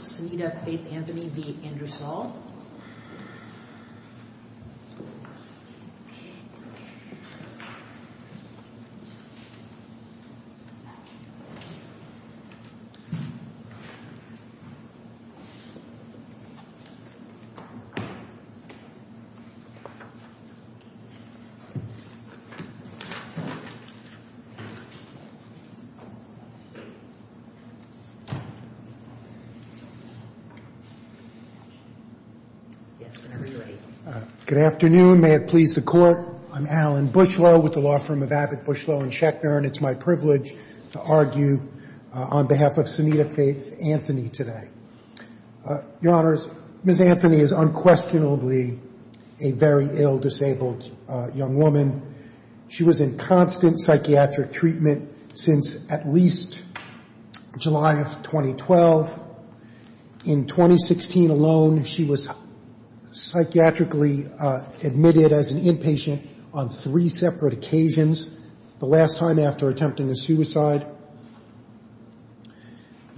Sanita Faith Anthony v. Andrew Saul Alan Bushlow, Law Firm of Abbott Bushlow & Schechner in 2016 alone. She was psychiatrically admitted as an inpatient on three separate occasions. The last time after attempting a suicide.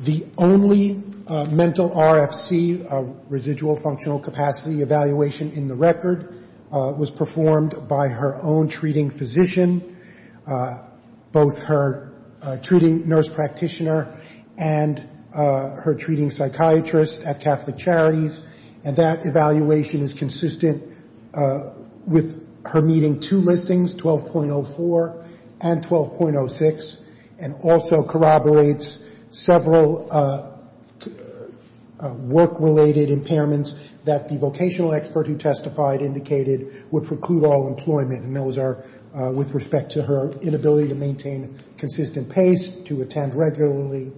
The only mental RFC, residual functional capacity evaluation in the record, was performed by her own treating physician, both her treating nurse practitioner and her own physician. Her treating psychiatrist at Catholic Charities, and that evaluation is consistent with her meeting two listings, 12.04 and 12.06, and also corroborates several work-related impairments that the vocational expert who testified indicated would preclude all employment. And those are with respect to her inability to maintain consistent pace, to attend regularly.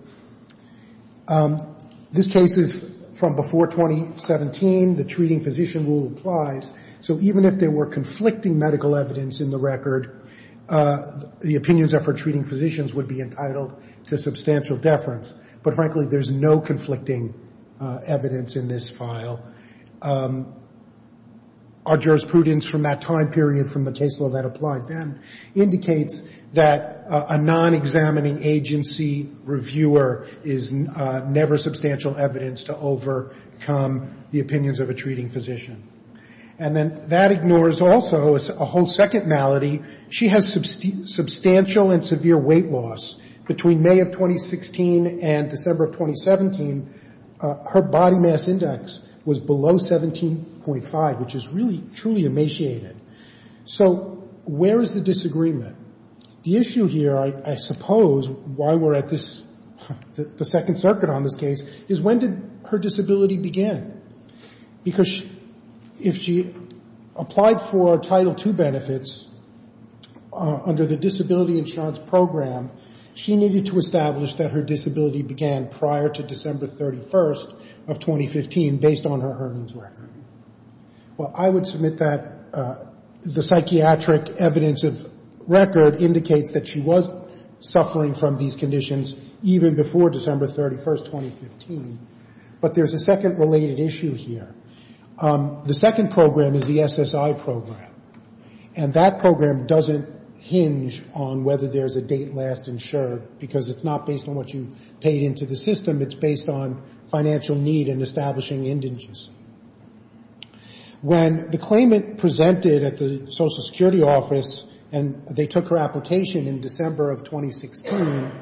This case is from before 2017. The treating physician rule applies. So even if there were conflicting medical evidence in the record, the opinions of her treating physicians would be entitled to substantial deference. But frankly, there's no conflicting evidence in this file. Our jurisprudence from that time period from the case law that applied then indicates that a non-examining agency reviewer is never substantial evidence to overcome the opinions of a treating physician. And then that ignores also a whole second malady. She has substantial and severe weight loss. Between May of 2016 and December of 2017, her body mass index was below 17.5, which is really, truly emaciated. So where is the disagreement? The issue here, I suppose, why we're at this, the Second Circuit on this case, is when did her disability begin? Because if she applied for Title II benefits under the disability insurance program, she needed to establish that her disability began prior to December 31st of 2015 based on her earnings record. Well, I would submit that the psychiatric evidence of record indicates that she was suffering from these conditions even before December 31st, 2015. But there's a second related issue here. The second program is the SSI program. And that program doesn't hinge on whether there's a date last insured, because it's not based on what you paid into the system. It's based on financial need and establishing indices. When the claimant presented at the Social Security office and they took her application in December of 2016,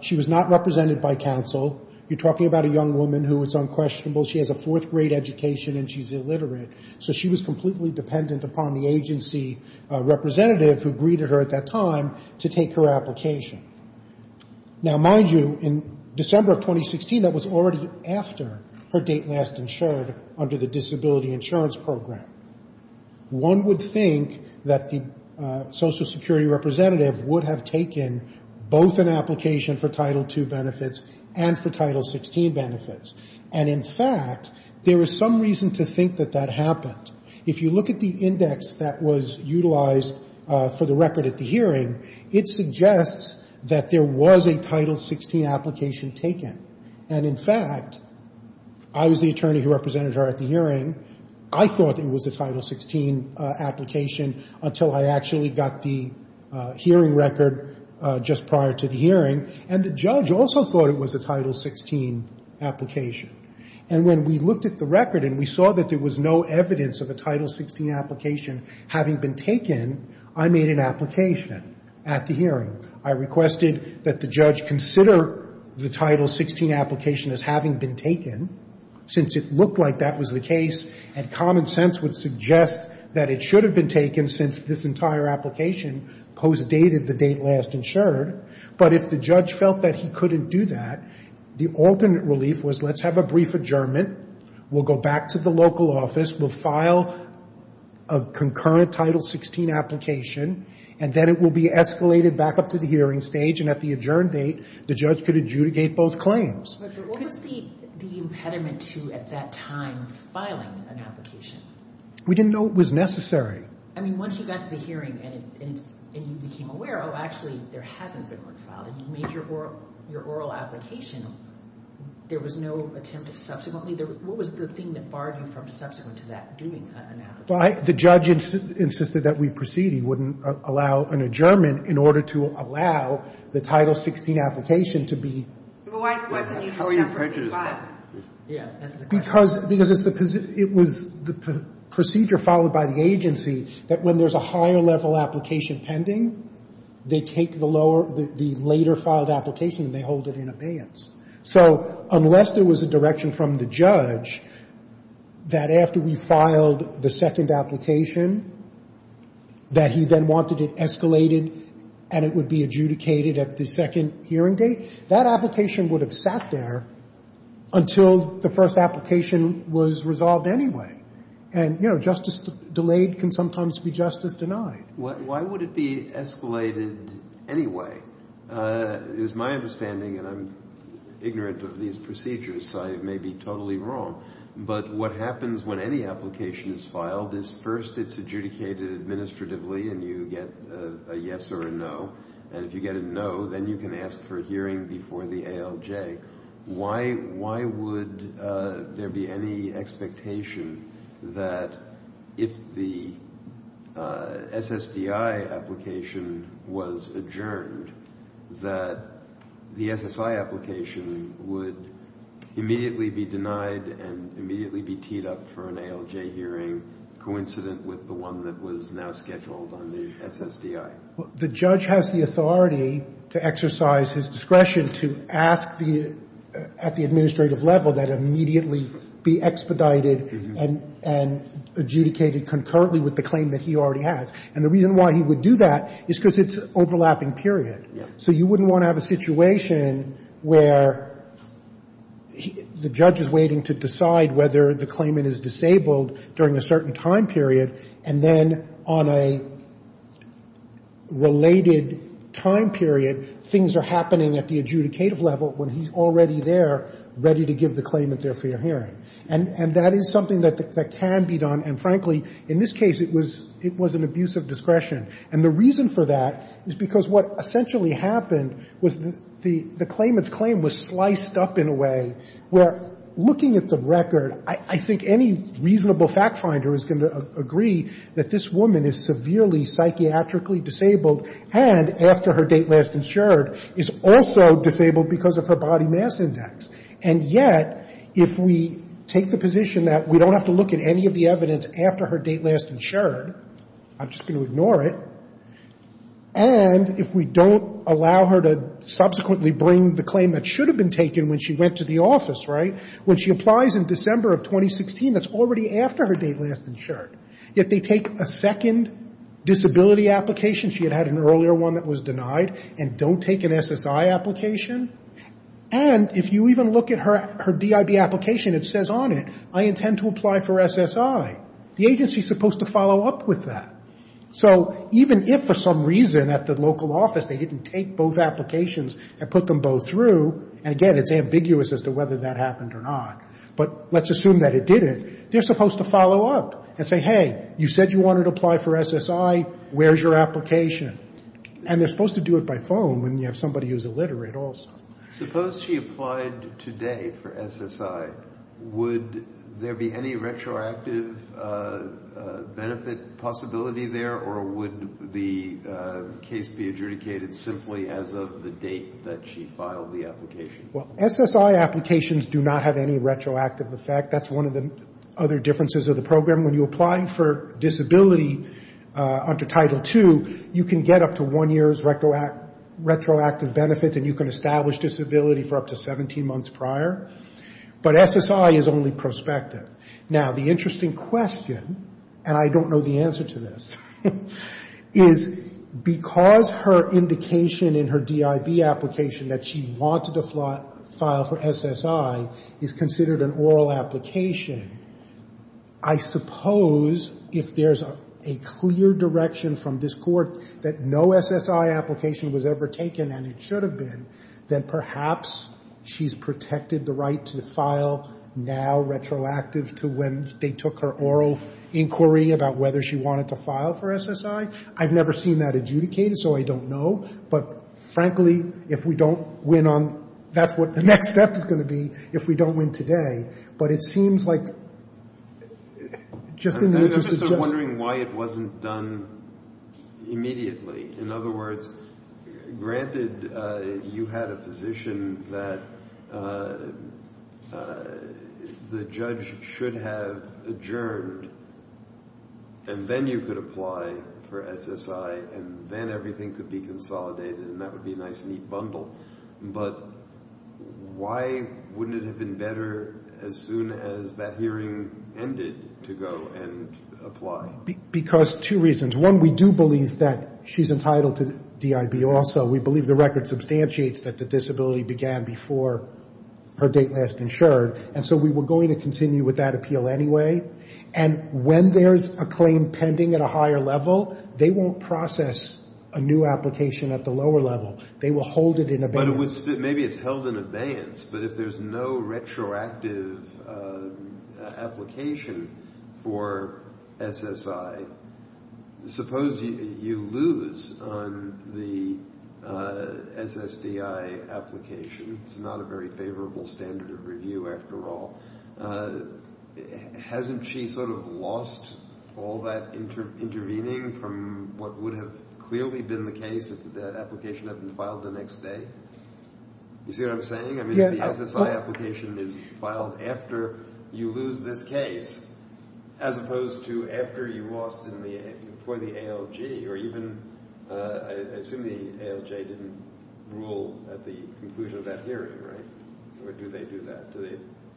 she was not represented by counsel. You're talking about a young woman who is unquestionable. She has a fourth grade education and she's illiterate. So she was completely dependent upon the agency representative who greeted her at that time to take her application. Now, mind you, in December of 2016, that was already after her date last insured under the disability insurance program. One would think that the Social Security representative would have taken both an application for Title II benefits and for Title XVI benefits. And in fact, there is some reason to think that that happened. If you look at the index that was utilized for the record at the hearing, it suggests that there was a Title II benefit application taken. And in fact, I was the attorney who represented her at the hearing. I thought it was a Title XVI application until I actually got the hearing record just prior to the hearing. And the judge also thought it was a Title XVI application. And when we looked at the record and we saw that there was no evidence of a Title XVI application having been taken, I made an application at the hearing. I requested that the judge consider the Title XVI application as having been taken, since it looked like that was the case. And common sense would suggest that it should have been taken since this entire application postdated the date last insured. But if the judge felt that he couldn't do that, the alternate relief was let's have a brief adjournment. We'll go back to the local office. We'll file a concurrent Title XVI application. And then it will be escalated back up to the hearing stage. And if there was an application at the adjourned date, the judge could adjudicate both claims. But what was the impediment to, at that time, filing an application? We didn't know it was necessary. I mean, once you got to the hearing and you became aware, oh, actually, there hasn't been one filed, and you made your oral application, there was no attempt to subsequently, what was the thing that barred you from subsequent to that doing an adjournment proceeding, wouldn't allow an adjournment in order to allow the Title XVI application to be How are you prejudiced about it? Because it was the procedure followed by the agency that when there's a higher level application pending, they take the later filed application and they hold it in abeyance. So unless there was a direction from the judge that after we filed the second application, that he then wanted it escalated and it would be adjudicated at the second hearing date, that application would have sat there until the first application was resolved anyway. And, you know, justice delayed can sometimes be justice denied. Why would it be escalated anyway, is my understanding, and I'm ignorant of these procedures, so I may be totally wrong. But what happens when any application is filed is first it's adjudicated administratively and you get a yes or a no. And if you get a no, then you can ask for a hearing before the ALJ. Why would there be any expectation that if the SSDI application was adjourned, that the SSI application would immediately be denied and re-adjourned? And immediately be teed up for an ALJ hearing, coincident with the one that was now scheduled on the SSDI? The judge has the authority to exercise his discretion to ask at the administrative level that it immediately be expedited and adjudicated concurrently with the claim that he already has. And the reason why he would do that is because it's overlapping, period. So you wouldn't want to have a situation where the judge is waiting to decide, you know, whether the claimant is disabled during a certain time period, and then on a related time period, things are happening at the adjudicative level when he's already there, ready to give the claimant their fair hearing. And that is something that can be done. And frankly, in this case, it was an abuse of discretion. And the reason for that is because what essentially happened was the claimant's claim was sliced up in a way where looking at the record, I think any reasonable fact finder is going to agree that this woman is severely psychiatrically disabled, and after her date last insured, is also disabled because of her body mass index. And yet, if we take the position that we don't have to look at any of the evidence after her date last insured, I'm just going to ignore it, and if we don't allow her to subsequently bring the claim that should have been taken when she went to the office, right, when she applies in December of 2016, that's already after her date last insured. If they take a second disability application, she had had an earlier one that was denied, and don't take an SSI application, and if you even look at her DIB application, it says on it, I intend to apply for SSI. The agency is supposed to follow up with that. So even if for some reason at the local office they didn't take both applications and put them both through, and again, it's ambiguous as to whether that happened or not, but let's assume that it didn't, they're supposed to follow up and say, hey, you said you wanted to apply for SSI, where's your application? And they're supposed to do it by phone when you have somebody who's illiterate also. Suppose she applied today for SSI, would there be any retroactive benefit possibility there, or would the case be adjudicated simply as of the date that she filed the application? Well, SSI applications do not have any retroactive effect. That's one of the other differences of the program. When you apply for disability under Title II, you can get up to one year's retroactive benefits, and you can establish disability for up to 17 months prior. But SSI is only prospective. Now, the interesting question, and I don't know the answer to this, is because of the fact that the as her indication in her DIB application that she wanted to file for SSI is considered an oral application, I suppose if there's a clear direction from this Court that no SSI application was ever taken, and it should have been, then perhaps she's protected the right to file now retroactive to when they took her oral inquiry about whether she wanted to file for SSI. I've never seen that adjudicated, so I don't know. But, frankly, if we don't win on that's what the next step is going to be if we don't win today. But it seems like just in the interest of I'm just wondering why it wasn't done immediately. In other words, granted you had a position that the judge should have adjourned, and then you could apply for SSI. And then everything could be consolidated, and that would be a nice neat bundle. But why wouldn't it have been better as soon as that hearing ended to go and apply? Because two reasons. One, we do believe that she's entitled to DIB also. We believe the record substantiates that the disability began before her date last insured. And so we were going to continue with that appeal anyway. And when there's a claim pending at a higher level, they won't process a new application at the lower level. They will hold it in abeyance. But if there's no retroactive application for SSI, suppose you lose on the SSDI application. It's not a very favorable standard of review after all. And she sort of lost all that intervening from what would have clearly been the case that the application had been filed the next day. You see what I'm saying? I mean, the SSI application is filed after you lose this case, as opposed to after you lost for the ALJ. Or even, I assume the ALJ didn't rule at the conclusion of that hearing, right? Or do they do that?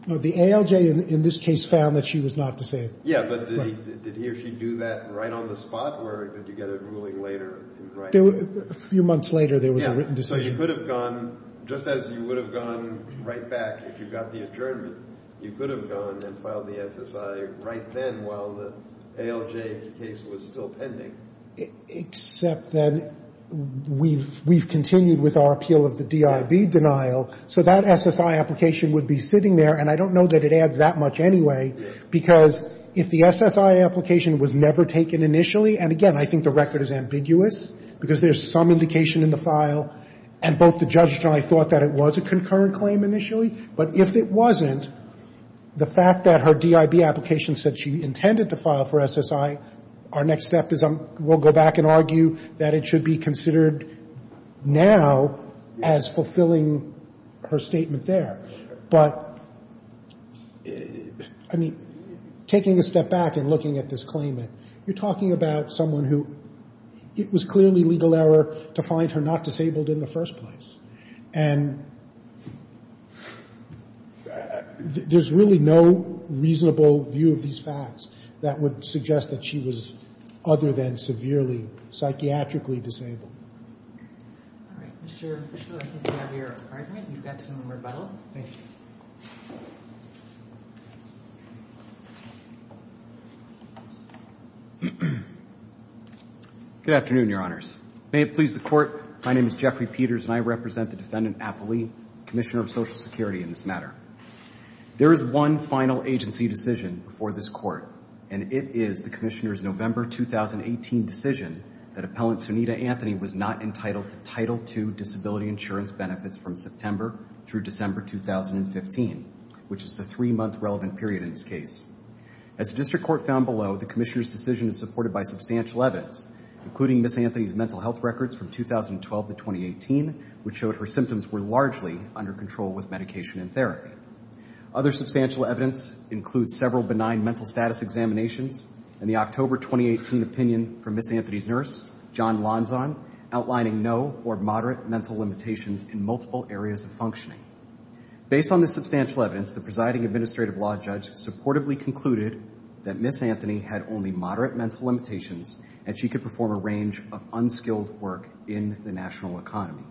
No, the ALJ in this case found that she was not disabled. Yeah, but did he or she do that right on the spot, or did you get a ruling later? A few months later there was a written decision. Yeah, so you could have gone, just as you would have gone right back if you got the adjournment, you could have gone and filed the SSI right then while the ALJ case was still pending. Except that we've continued with our appeal of the DIB denial, so that SSI application would be sitting there, and I don't know that it adds that much anyway, because if the SSI application was never taken initially, and again, I think the record is ambiguous, because there's some indication in the file, and both the judge and I thought that it was a concurrent claim initially, but if it wasn't, the fact that her DIB application said she intended to file for SSI, our next step is we'll go back and argue that it should be considered now as fulfilling her statement there. But, I mean, taking a step back and looking at this claimant, you're talking about someone who it was clearly legal error to find her not disabled in the first place. And there's really no reasonable view of these facts that would suggest that she was other than severely, psychiatrically disabled. All right, Mr. Bishop, I think we have your argument. You've got some rebuttal. Good afternoon, Your Honors. May it please the Court, my name is Jeffrey Peters, and I represent the Defendant Applee, Commissioner of Social Security in this matter. There is one final agency decision before this Court, and it is the Commissioner's November 2018 decision that Appellant Sunita Anthony was not entitled to Title II disability insurance benefits from September through December 2015, which is the three-month relevant period in this case. As the District Court found below, the Commissioner's decision is supported by substantial evidence, including Ms. Anthony's mental health records from 2012 to 2018, which showed her symptoms were largely under control with medication and therapy. Other substantial evidence includes several benign mental status examinations, and the October 2018 opinion from Ms. Anthony's nurse, John Lonzon, outlining no or moderate mental limitations in multiple areas of functioning. Based on this substantial evidence, the presiding administrative law judge supportably concluded that Ms. Anthony had only moderate mental limitations, and she could perform a range of unskilled work in the national economy.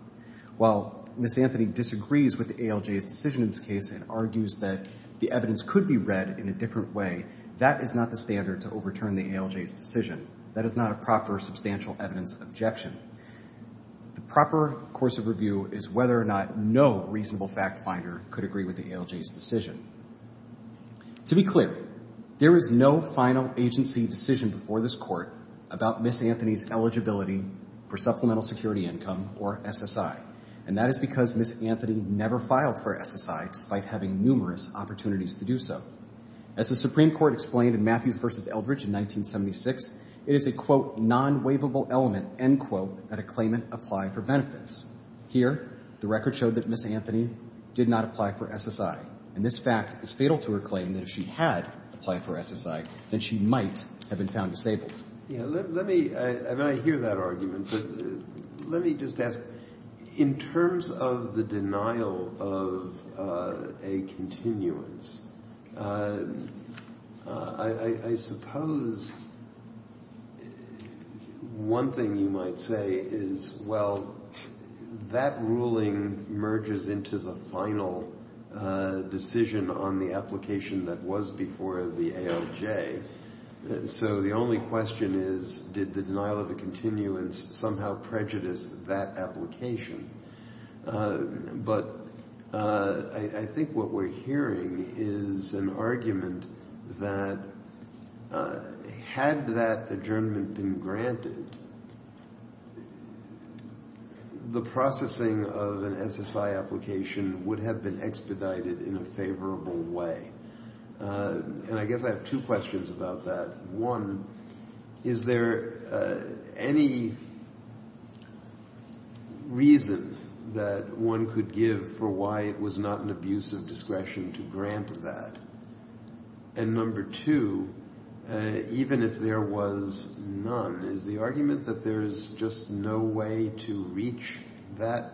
While Ms. Anthony disagrees with the ALJ's decision in this case and argues that the evidence could be read in a different way, that is not the standard to overturn the ALJ's decision. That is not a proper substantial evidence objection. The proper course of review is whether or not no reasonable fact finder could agree with the ALJ's decision. To be clear, there was no final agency decision before this Court about Ms. Anthony's eligibility for Supplemental Security Income, or SSI. And that is because Ms. Anthony never filed for SSI, despite having numerous opportunities to do so. As the Supreme Court explained in Matthews v. Eldridge in 1976, it is a, quote, non-waivable element, end quote, that a claimant applied for benefits. Here, the record showed that Ms. Anthony did not apply for SSI. And this fact is fatal to her claim that if she had applied for SSI, then she might have been found disabled. Let me, and I hear that argument, but let me just ask, in terms of the denial of a continuance, I suppose one thing you might say is, well, that ruling merges into the final decision on the application that was before the ALJ. So the only question is, did the denial of a continuance somehow prejudice that application? But I think what we're hearing is an argument that had that adjournment been granted, the processing of an SSI application would have been expedited in a favorable way. And I guess I have two questions about that. One, is there any reason that one could give for why it was not an abuse of discretion to grant that? And number two, even if there was none, is the argument that there is just no way to reach that,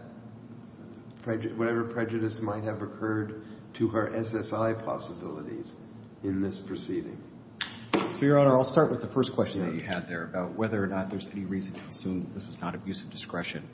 whatever prejudice might have occurred to her SSI possibilities in this proceeding? So, Your Honor, I'll start with the first question that you had there about whether or not there's any reason to assume that this was not abuse of discretion.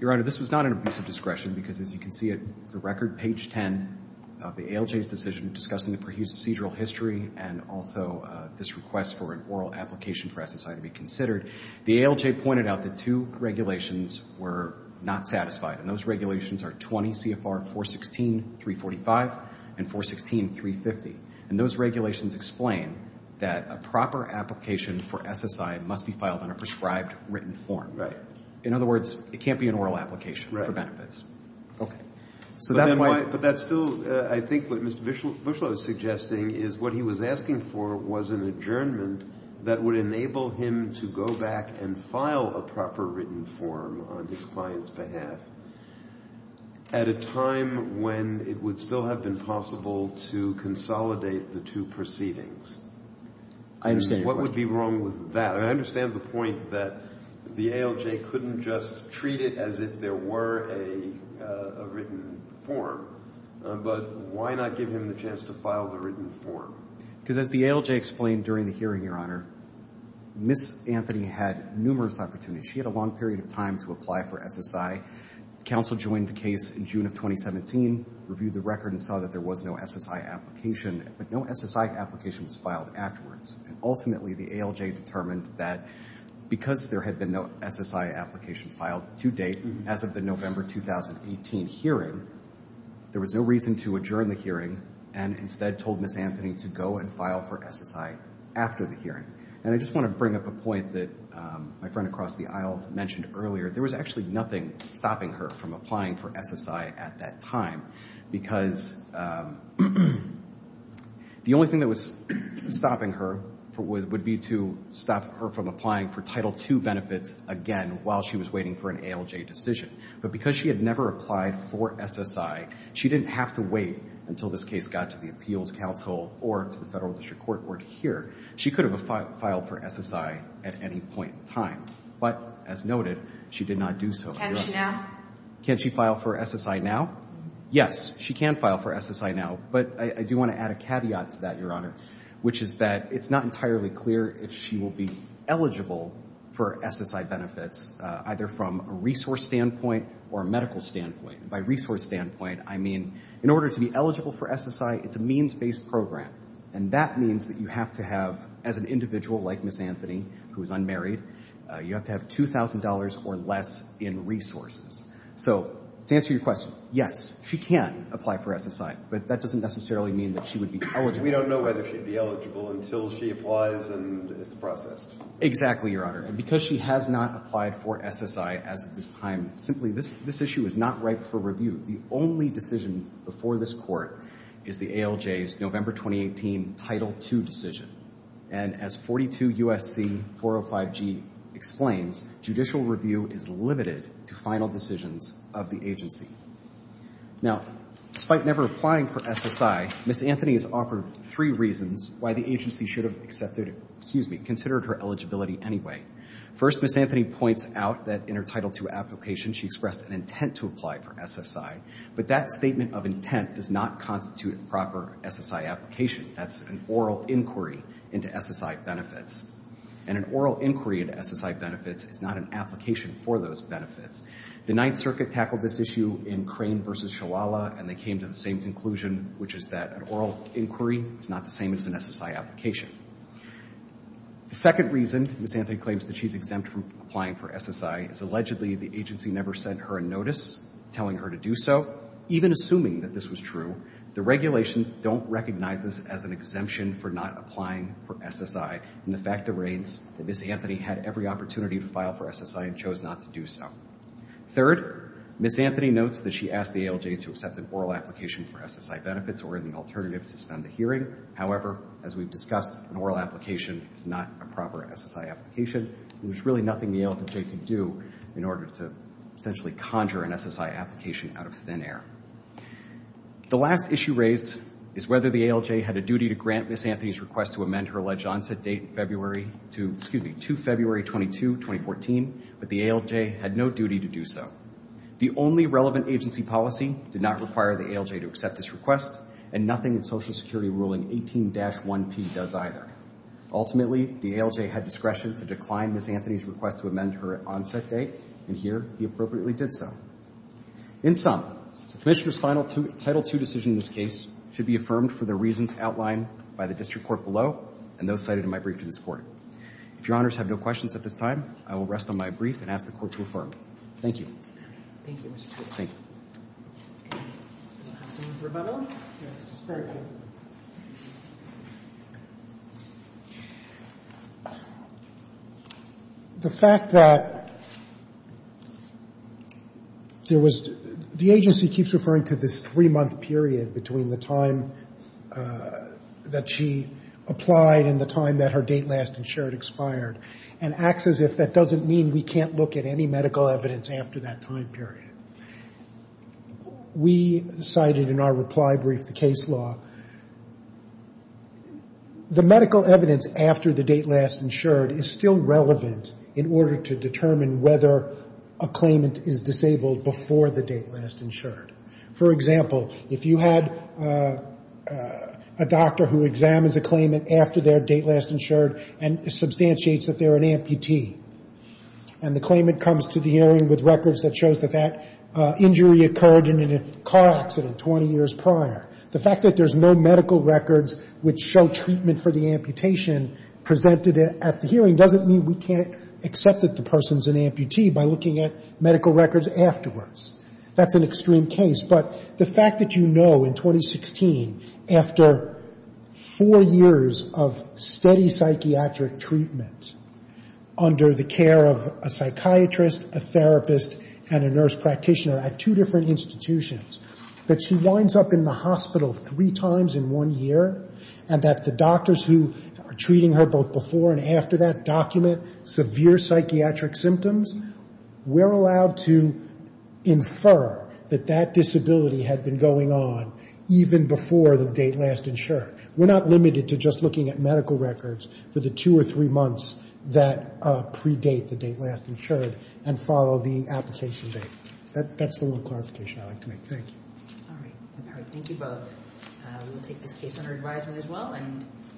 Your Honor, this was not an abuse of discretion because, as you can see, at the record, page 10 of the ALJ's decision discussing the procedural history and also this request for an oral application for SSI to be considered, the ALJ pointed out that two regulations were not satisfied, and those regulations are 20 CFR 416, 345, and 416, 350. And those regulations explain that a proper application for SSI must be filed in a prescribed written form. In other words, it can't be an oral application for benefits. But that's still, I think, what Mr. Buschlo is suggesting is what he was asking for was an adjournment that would enable him to go back and file a proper written form on his client's behalf at a time when it would still have been possible to consolidate the two proceedings. I understand your question. And what would be wrong with that? I understand the point that the ALJ couldn't just treat it as if there were a written form, but why not give him the chance to file the written form? Because as the ALJ explained during the hearing, Your Honor, Ms. Anthony had numerous opportunities. She had a long period of time to apply for SSI. Council joined the case in June of 2017, reviewed the record, and saw that there was no SSI application. But no SSI application was filed afterwards. And ultimately, the ALJ determined that because there had been no SSI application filed to date as of the November 2018 hearing, there was no reason to adjourn the hearing and instead told Ms. Anthony to go and file for SSI after the hearing. And I just want to bring up a point that my friend across the aisle mentioned earlier. There was actually nothing stopping her from applying for SSI at that time because the only thing that was stopping her would be to stop her from applying for Title II benefits again while she was waiting for an ALJ decision. But because she had never applied for SSI, she didn't have to wait until this case got to the Appeals Council or to the Federal District Court or to here. She could have filed for SSI at any point in time. But as noted, she did not do so. Can she now? Can she file for SSI now? Yes, she can file for SSI now. But I do want to add a caveat to that, Your Honor, which is that it's not entirely clear if she will be eligible for SSI benefits, either from a resource standpoint or a medical standpoint. By resource standpoint, I mean in order to be eligible for SSI, it's a means-based program. And that means that you have to have, as an individual like Ms. Anthony, who is unmarried, you have to have $2,000 or less in resources. So to answer your question, yes, she can apply for SSI. But that doesn't necessarily mean that she would be eligible. I don't know whether she would be eligible until she applies and it's processed. Exactly, Your Honor. And because she has not applied for SSI as of this time, simply this issue is not ripe for review. The only decision before this Court is the ALJ's November 2018 Title II decision. And as 42 U.S.C. 405G explains, judicial review is limited to final decisions of the agency. Now, despite never applying for SSI, Ms. Anthony has offered three reasons why the agency should have considered her eligibility anyway. First, Ms. Anthony points out that in her Title II application, she expressed an intent to apply for SSI. But that statement of intent does not constitute a proper SSI application. That's an oral inquiry into SSI benefits. And an oral inquiry into SSI benefits is not an application for those benefits. The Ninth Circuit tackled this issue in Crane v. Shalala, and they came to the same conclusion, which is that an oral inquiry is not the same as an SSI application. The second reason Ms. Anthony claims that she's exempt from applying for SSI is allegedly the agency never sent her a notice telling her to do so, even assuming that this was true. The regulations don't recognize this as an exemption for not applying for SSI in the fact that Ms. Anthony had every opportunity to file for SSI and chose not to do so. Third, Ms. Anthony notes that she asked the ALJ to accept an oral application for SSI benefits or any alternatives to spend the hearing. However, as we've discussed, an oral application is not a proper SSI application. There's really nothing the ALJ can do in order to essentially conjure an SSI application out of thin air. The last issue raised is whether the ALJ had a duty to grant Ms. Anthony's request to amend her alleged onset date to February 22, 2014, but the ALJ had no duty to do so. The only relevant agency policy did not require the ALJ to accept this request, and nothing in Social Security Ruling 18-1P does either. Ultimately, the ALJ had discretion to decline Ms. Anthony's request to amend her onset date, and here he appropriately did so. In sum, the Commissioner's Final Title II decision in this case should be affirmed for the reasons outlined by the district court below and those cited in my brief to this Court. If Your Honors have no questions at this time, I will rest on my brief and ask the Court to affirm. Thank you. Thank you, Mr. Chief. Thank you. Does anyone have a rebuttal? Yes. Very good. The fact that there was the agency keeps referring to this three-month period between the time that she applied and the time that her date last insured expired and acts as if that doesn't mean we can't look at any medical evidence after that time period. We cited in our reply brief the case law. The medical evidence after the date last insured is still relevant in order to determine whether a claimant is disabled before the date last insured. For example, if you had a doctor who examines a claimant after their date last insured and substantiates that they're an amputee and the claimant comes to the hearing with records that shows that that injury occurred in a car accident 20 years prior, the fact that there's no medical records which show treatment for the amputation presented at the hearing doesn't mean we can't accept that the person's an amputee by looking at medical records afterwards. That's an extreme case. But the fact that you know in 2016 after four years of steady psychiatric treatment under the care of a psychiatrist, a therapist, and a nurse practitioner at two different institutions that she winds up in the hospital three times in one year and that the doctors who are treating her both before and after that document severe psychiatric symptoms, we're allowed to infer that that disability had been going on even before the date last insured. We're not limited to just looking at medical records for the two or three months that predate the date last insured and follow the application date. That's the little clarification I'd like to make. Thank you. All right. Thank you both. We'll take this case under advisement as well.